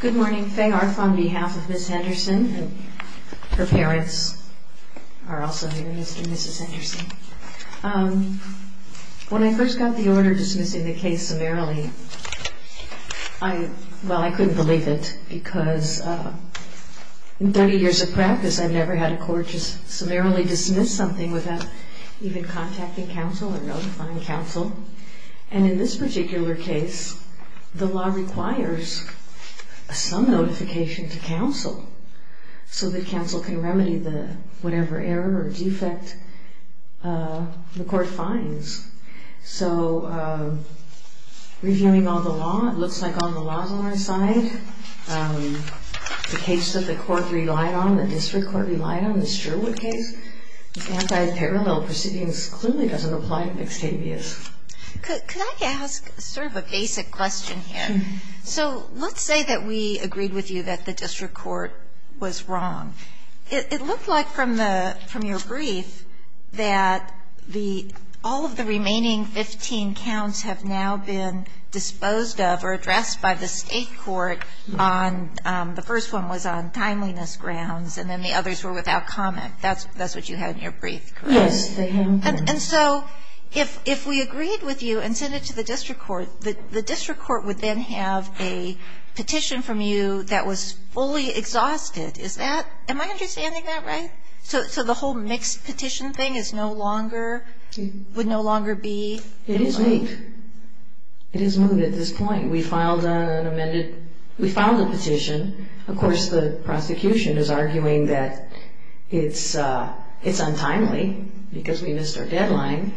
Good morning. Faye Arth on behalf of Ms. Henderson and her parents are also here, Mr. and Mrs. Henderson. When I first got the order dismissing the case summarily, well, I couldn't believe it because in 30 years of practice, I've never had a court just summarily dismiss something without even contacting counsel or notifying counsel. And in this particular case, the law requires some notification to counsel so that counsel can remedy the whatever error or defect the court finds. So reviewing all the law, it looks like all the laws on our side, the case that the court relied on, the district court relied on, in this Sherwood case, anti-parallel proceedings clearly doesn't apply to mixed habeas. Could I ask sort of a basic question here? So let's say that we agreed with you that the district court was wrong. It looked like from your brief that all of the remaining 15 counts have now been disposed of or addressed by the state court on, the first one was on timeliness grounds and then the others were without comment. That's what you had in your brief, correct? Yes. And so if we agreed with you and sent it to the district court, the district court would then have a petition from you that was fully exhausted. Is that, am I understanding that right? So the whole mixed petition thing is no longer, would no longer be? It is moved. It is moved at this point. We filed an amended, we filed a petition. Of course, the prosecution is arguing that it's untimely because we missed our deadline.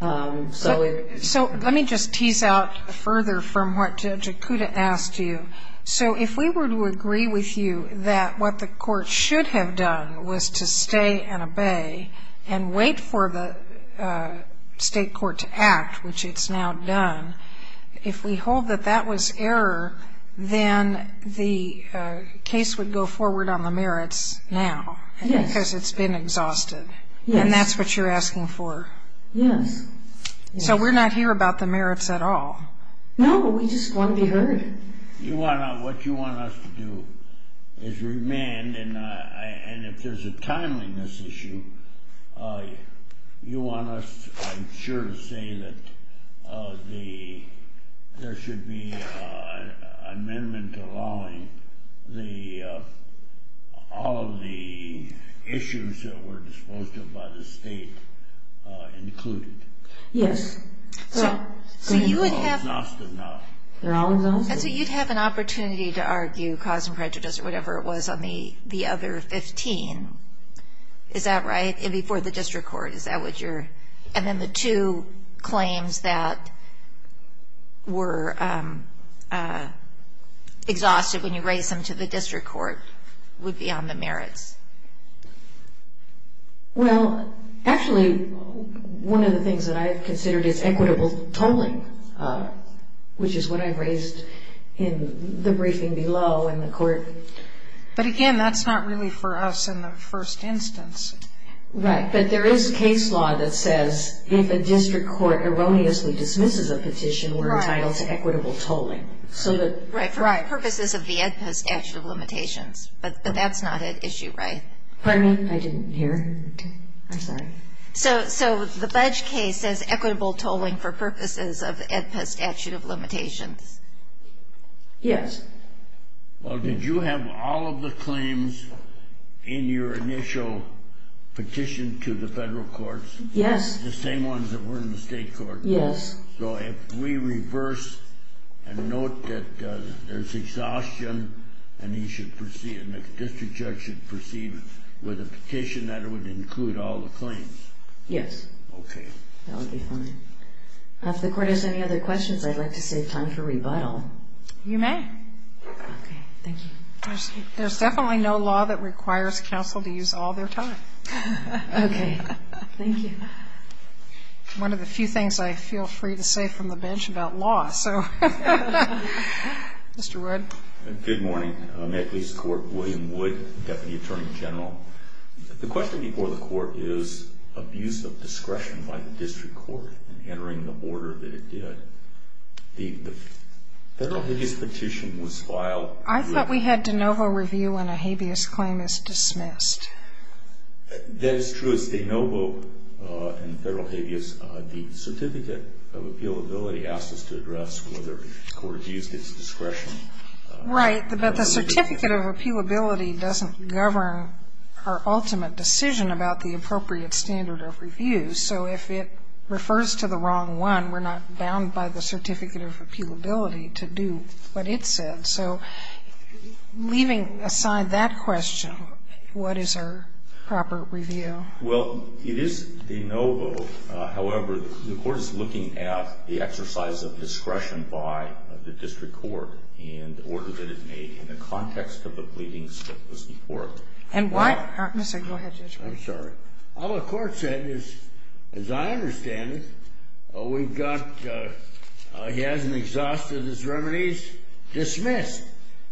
So let me just tease out further from what Jakuta asked you. So if we were to agree with you that what the court should have done was to stay and obey and wait for the state court to act, which it's now done, if we hold that that was error, then the case would go forward on the merits now because it's been exhausted. And that's what you're asking for. Yes. So we're not here about the merits at all. No, we just want to be heard. What you want us to do is remand. And if there's a timeliness issue, you want us, I'm sure, to say that there should be an amendment allowing all of the issues that were disposed of by the state included. Yes. They're all exhausted now. They're all exhausted. And so you'd have an opportunity to argue cause and prejudice or whatever it was on the other 15. Is that right? And before the district court. Is that what you're? And then the two claims that were exhausted when you raised them to the district court would be on the merits. Well, actually, one of the things that I've considered is equitable tolling, which is what I've raised in the briefing below in the court. But, again, that's not really for us in the first instance. Right. But there is case law that says if a district court erroneously dismisses a petition, we're entitled to equitable tolling. Right. For purposes of the AEDPA statute of limitations. But that's not an issue, right? Pardon me? I didn't hear. I'm sorry. So the budge case says equitable tolling for purposes of AEDPA statute of limitations. Yes. Well, did you have all of the claims in your initial petition to the federal courts? Yes. The same ones that were in the state court? Yes. So if we reverse and note that there's exhaustion, and the district judge should proceed with a petition that would include all the claims? Yes. Okay. That would be fine. If the court has any other questions, I'd like to save time for rebuttal. You may. Okay. Thank you. There's definitely no law that requires counsel to use all their time. Okay. Thank you. One of the few things I feel free to say from the bench about law. Mr. Wood. Good morning. Metcalfe's Court, William Wood, Deputy Attorney General. The question before the court is abuse of discretion by the district court in entering the order that it did. The federal habeas petition was filed. I thought we had de novo review when a habeas claim is dismissed. That is true. It's de novo in federal habeas. The Certificate of Appealability asks us to address whether the court has used its discretion. Right. But the Certificate of Appealability doesn't govern our ultimate decision about the appropriate standard of review. So if it refers to the wrong one, we're not bound by the Certificate of Appealability to do what it said. So leaving aside that question, what is our proper review? Well, it is de novo. However, the court is looking at the exercise of discretion by the district court in the order that it made in the context of the pleadings that was before it. And why? Mr. Go ahead, Judge. I'm sorry. All the court said is, as I understand it, we've got he hasn't exhausted his remedies, dismissed.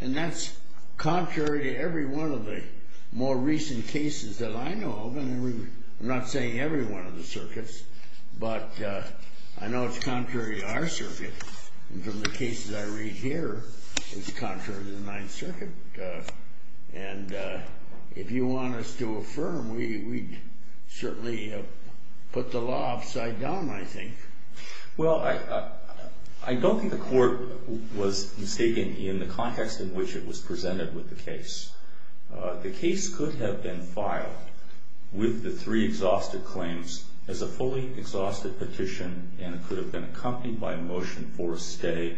And that's contrary to every one of the more recent cases that I know of. I'm not saying every one of the circuits, but I know it's contrary to our circuit. And from the cases I read here, it's contrary to the Ninth Circuit. And if you want us to affirm, we'd certainly put the law upside down, I think. Well, I don't think the court was mistaken in the context in which it was presented with the case. The case could have been filed with the three exhausted claims as a fully exhausted petition and it could have been accompanied by a motion for a stay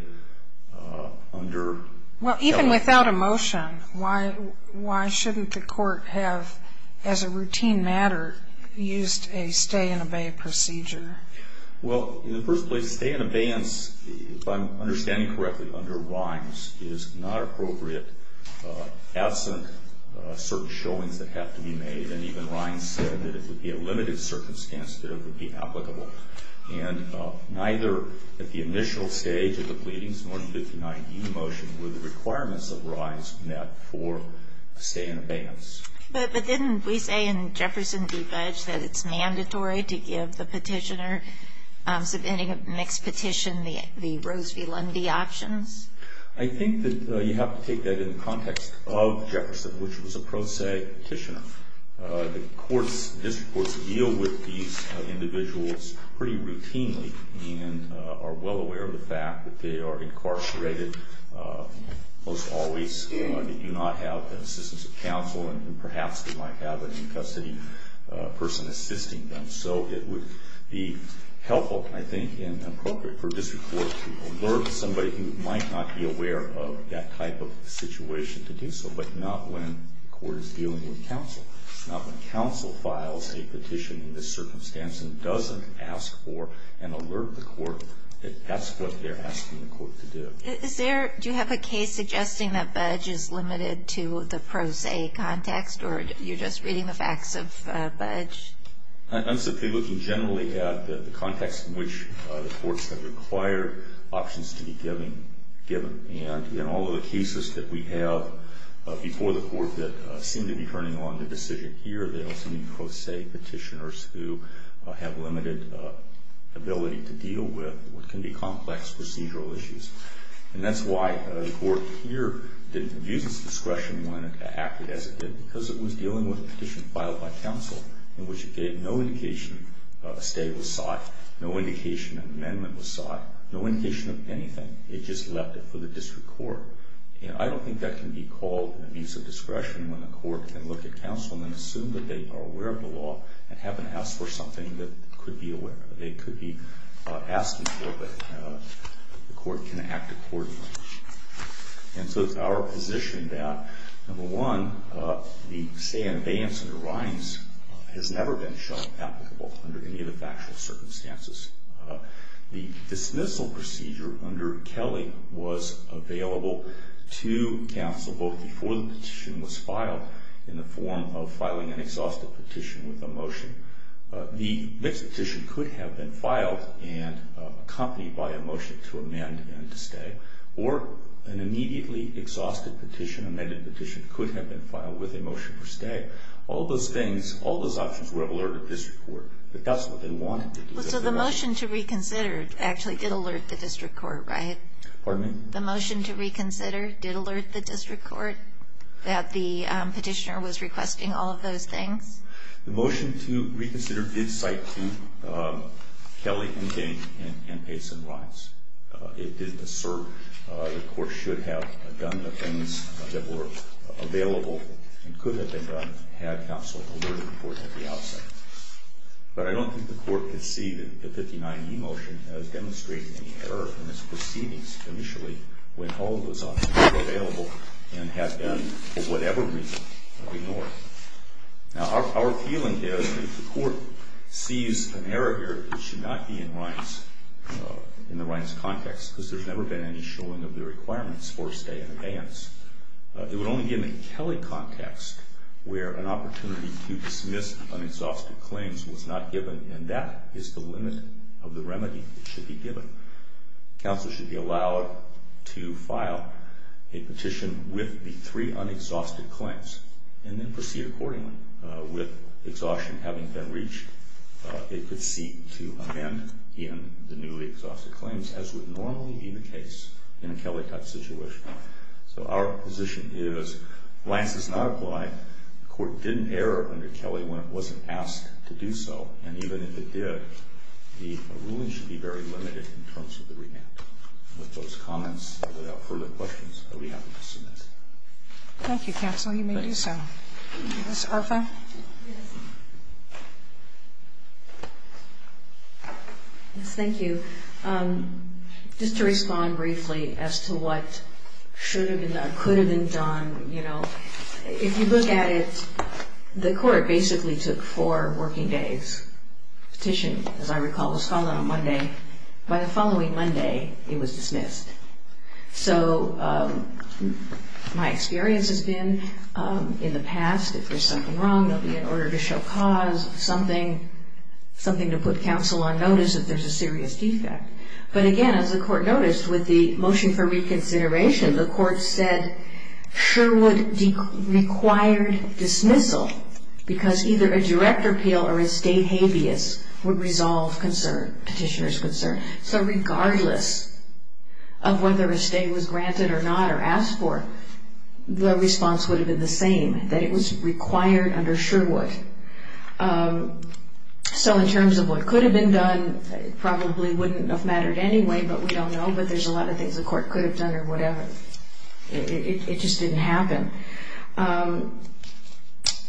under. Well, even without a motion, why shouldn't the court have, as a routine matter, used a stay and obey procedure? Well, in the first place, stay and abeyance, if I'm understanding correctly, under Rines, is not appropriate absent certain showings that have to be made. And even Rines said that it would be a limited circumstance that it would be applicable. And neither at the initial stage of the pleadings, nor the 59E motion, were the requirements of Rines met for stay and abeyance. But didn't we say in Jefferson v. Fudge that it's mandatory to give the petitioner submitting a mixed petition the Rose v. Lundy options? I think that you have to take that in the context of Jefferson, which was a pro se petitioner. The courts, district courts, deal with these individuals pretty routinely and are well aware of the fact that they are incarcerated, most always, they do not have the assistance of counsel, and perhaps they might have a in-custody person assisting them. So it would be helpful, I think, and appropriate for a district court to alert somebody who might not be aware of that type of situation to do so, but not when the court is dealing with counsel. Not when counsel files a petition in this circumstance and doesn't ask for and alert the court that that's what they're asking the court to do. Do you have a case suggesting that Fudge is limited to the pro se context, or you're just reading the facts of Fudge? I'm simply looking generally at the context in which the courts have required options to be given. And in all of the cases that we have before the court that seem to be turning on the decision here, they also need pro se petitioners who have limited ability to deal with what can be complex procedural issues. And that's why the court here didn't abuse its discretion when it acted as it did, because it was dealing with a petition filed by counsel in which it gave no indication a stay was sought, no indication an amendment was sought, no indication of anything. It just left it for the district court. And I don't think that can be called an abuse of discretion when the court can look at counsel and assume that they are aware of the law and haven't asked for something that they could be aware of, that they could be asking for, but the court can act accordingly. And so it's our position that, number one, the stay and abeyance under Rhines has never been shown applicable under any of the factual circumstances. The dismissal procedure under Kelly was available to counsel both before the petition was filed in the form of filing an exhaustive petition with a motion. The next petition could have been filed and accompanied by a motion to amend and to stay, or an immediately exhaustive petition, amended petition, could have been filed with a motion for stay. All those things, all those options were alerted to the district court, but that's what they wanted. So the motion to reconsider actually did alert the district court, right? Pardon me? The motion to reconsider did alert the district court that the petitioner was requesting all of those things? The motion to reconsider did cite two, Kelly and King and Pace and Rhines. It did assert the court should have done the things that were available and could have been done had counsel alerted the court at the outset. But I don't think the court could see that the 59E motion has demonstrated any error in its proceedings initially when all of those options were available and had been, for whatever reason, ignored. Now, our feeling is that if the court sees an error here, it should not be in Rhines, in the Rhines context, because there's never been any showing of the requirements for stay and abeyance. It would only give a Kelly context where an opportunity to dismiss unexhausted claims was not given, and that is the limit of the remedy that should be given. Counsel should be allowed to file a petition with the three unexhausted claims and then proceed accordingly with exhaustion having been reached. It could seek to amend in the newly exhausted claims as would normally be the case in a Kelly cut situation. So our position is, Rhines does not apply, the court didn't err under Kelly when it wasn't asked to do so, and even if it did, the ruling should be very limited in terms of the remand. With those comments, without further questions, I would be happy to submit. Thank you, counsel. You may do so. Ms. Arfa? Yes, thank you. Just to respond briefly as to what should have been done, could have been done, you know, if you look at it, the court basically took four working days. Petition, as I recall, was called on Monday. By the following Monday, it was dismissed. So my experience has been, in the past, if there's something wrong, there'll be an order to show cause, something to put counsel on notice if there's a serious defect. But again, as the court noticed, with the motion for reconsideration, the court said Sherwood required dismissal because either a direct appeal or a state habeas would resolve petitioner's concern. So regardless of whether a state was granted or not or asked for, the response would have been the same, that it was required under Sherwood. So in terms of what could have been done, it probably wouldn't have mattered anyway, but we don't know. But there's a lot of things the court could have done or whatever. It just didn't happen.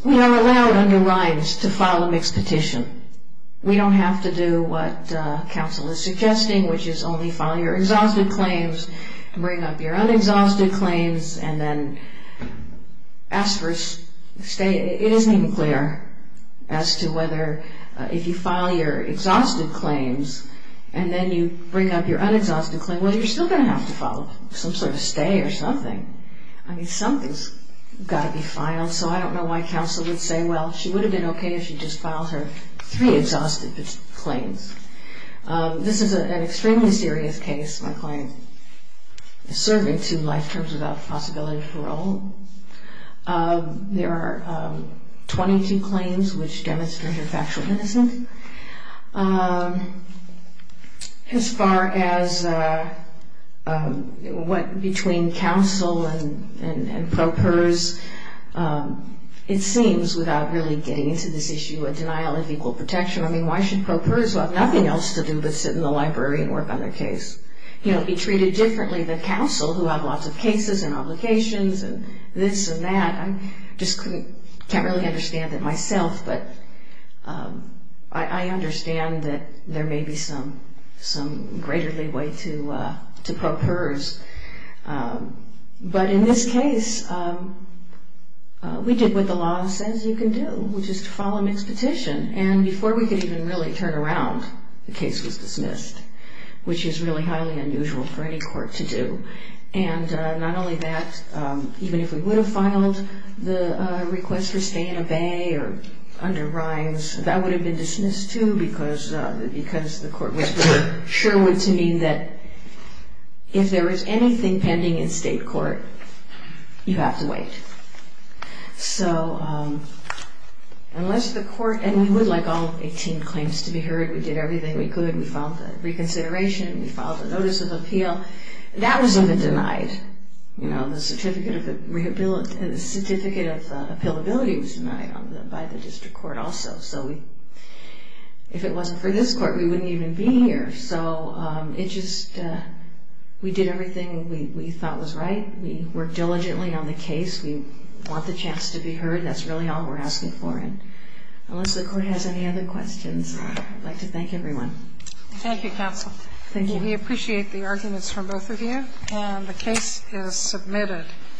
We are allowed under Rimes to file a mixed petition. We don't have to do what counsel is suggesting, which is only file your exhausted claims, bring up your unexhausted claims, and then ask for a stay. It isn't even clear as to whether, if you file your exhausted claims and then you bring up your unexhausted claims, whether you're still going to have to file some sort of stay or something. I mean, something's got to be filed. So I don't know why counsel would say, well, she would have been okay if she just filed her three exhausted claims. This is an extremely serious case. My client is serving two life terms without the possibility of parole. There are 22 claims which demonstrate her factual innocence. As far as what between counsel and pro pers, it seems, without really getting into this issue, a denial of equal protection, I mean, why should pro pers who have nothing else to do but sit in the library and work on their case be treated differently than counsel who have lots of cases and obligations and this and that? I just can't really understand it myself, but I understand that there may be some greater leeway to pro pers. But in this case, we did what the law says you can do, which is to file a mixed petition. And before we could even really turn around, the case was dismissed, which is really highly unusual for any court to do. And not only that, even if we would have filed the request for stay and obey or under brines, that would have been dismissed, too, because the court was sure to mean that if there was anything pending in state court, you have to wait. So unless the court, and we would like all 18 claims to be heard. We did everything we could. We filed the reconsideration. We filed the notice of appeal. That was even denied. The certificate of appealability was denied by the district court also. So if it wasn't for this court, we wouldn't even be here. So we did everything we thought was right. We worked diligently on the case. We want the chance to be heard. That's really all we're asking for. Unless the court has any other questions, I'd like to thank everyone. Thank you, counsel. Thank you. We appreciate the arguments from both of you. And the case is submitted.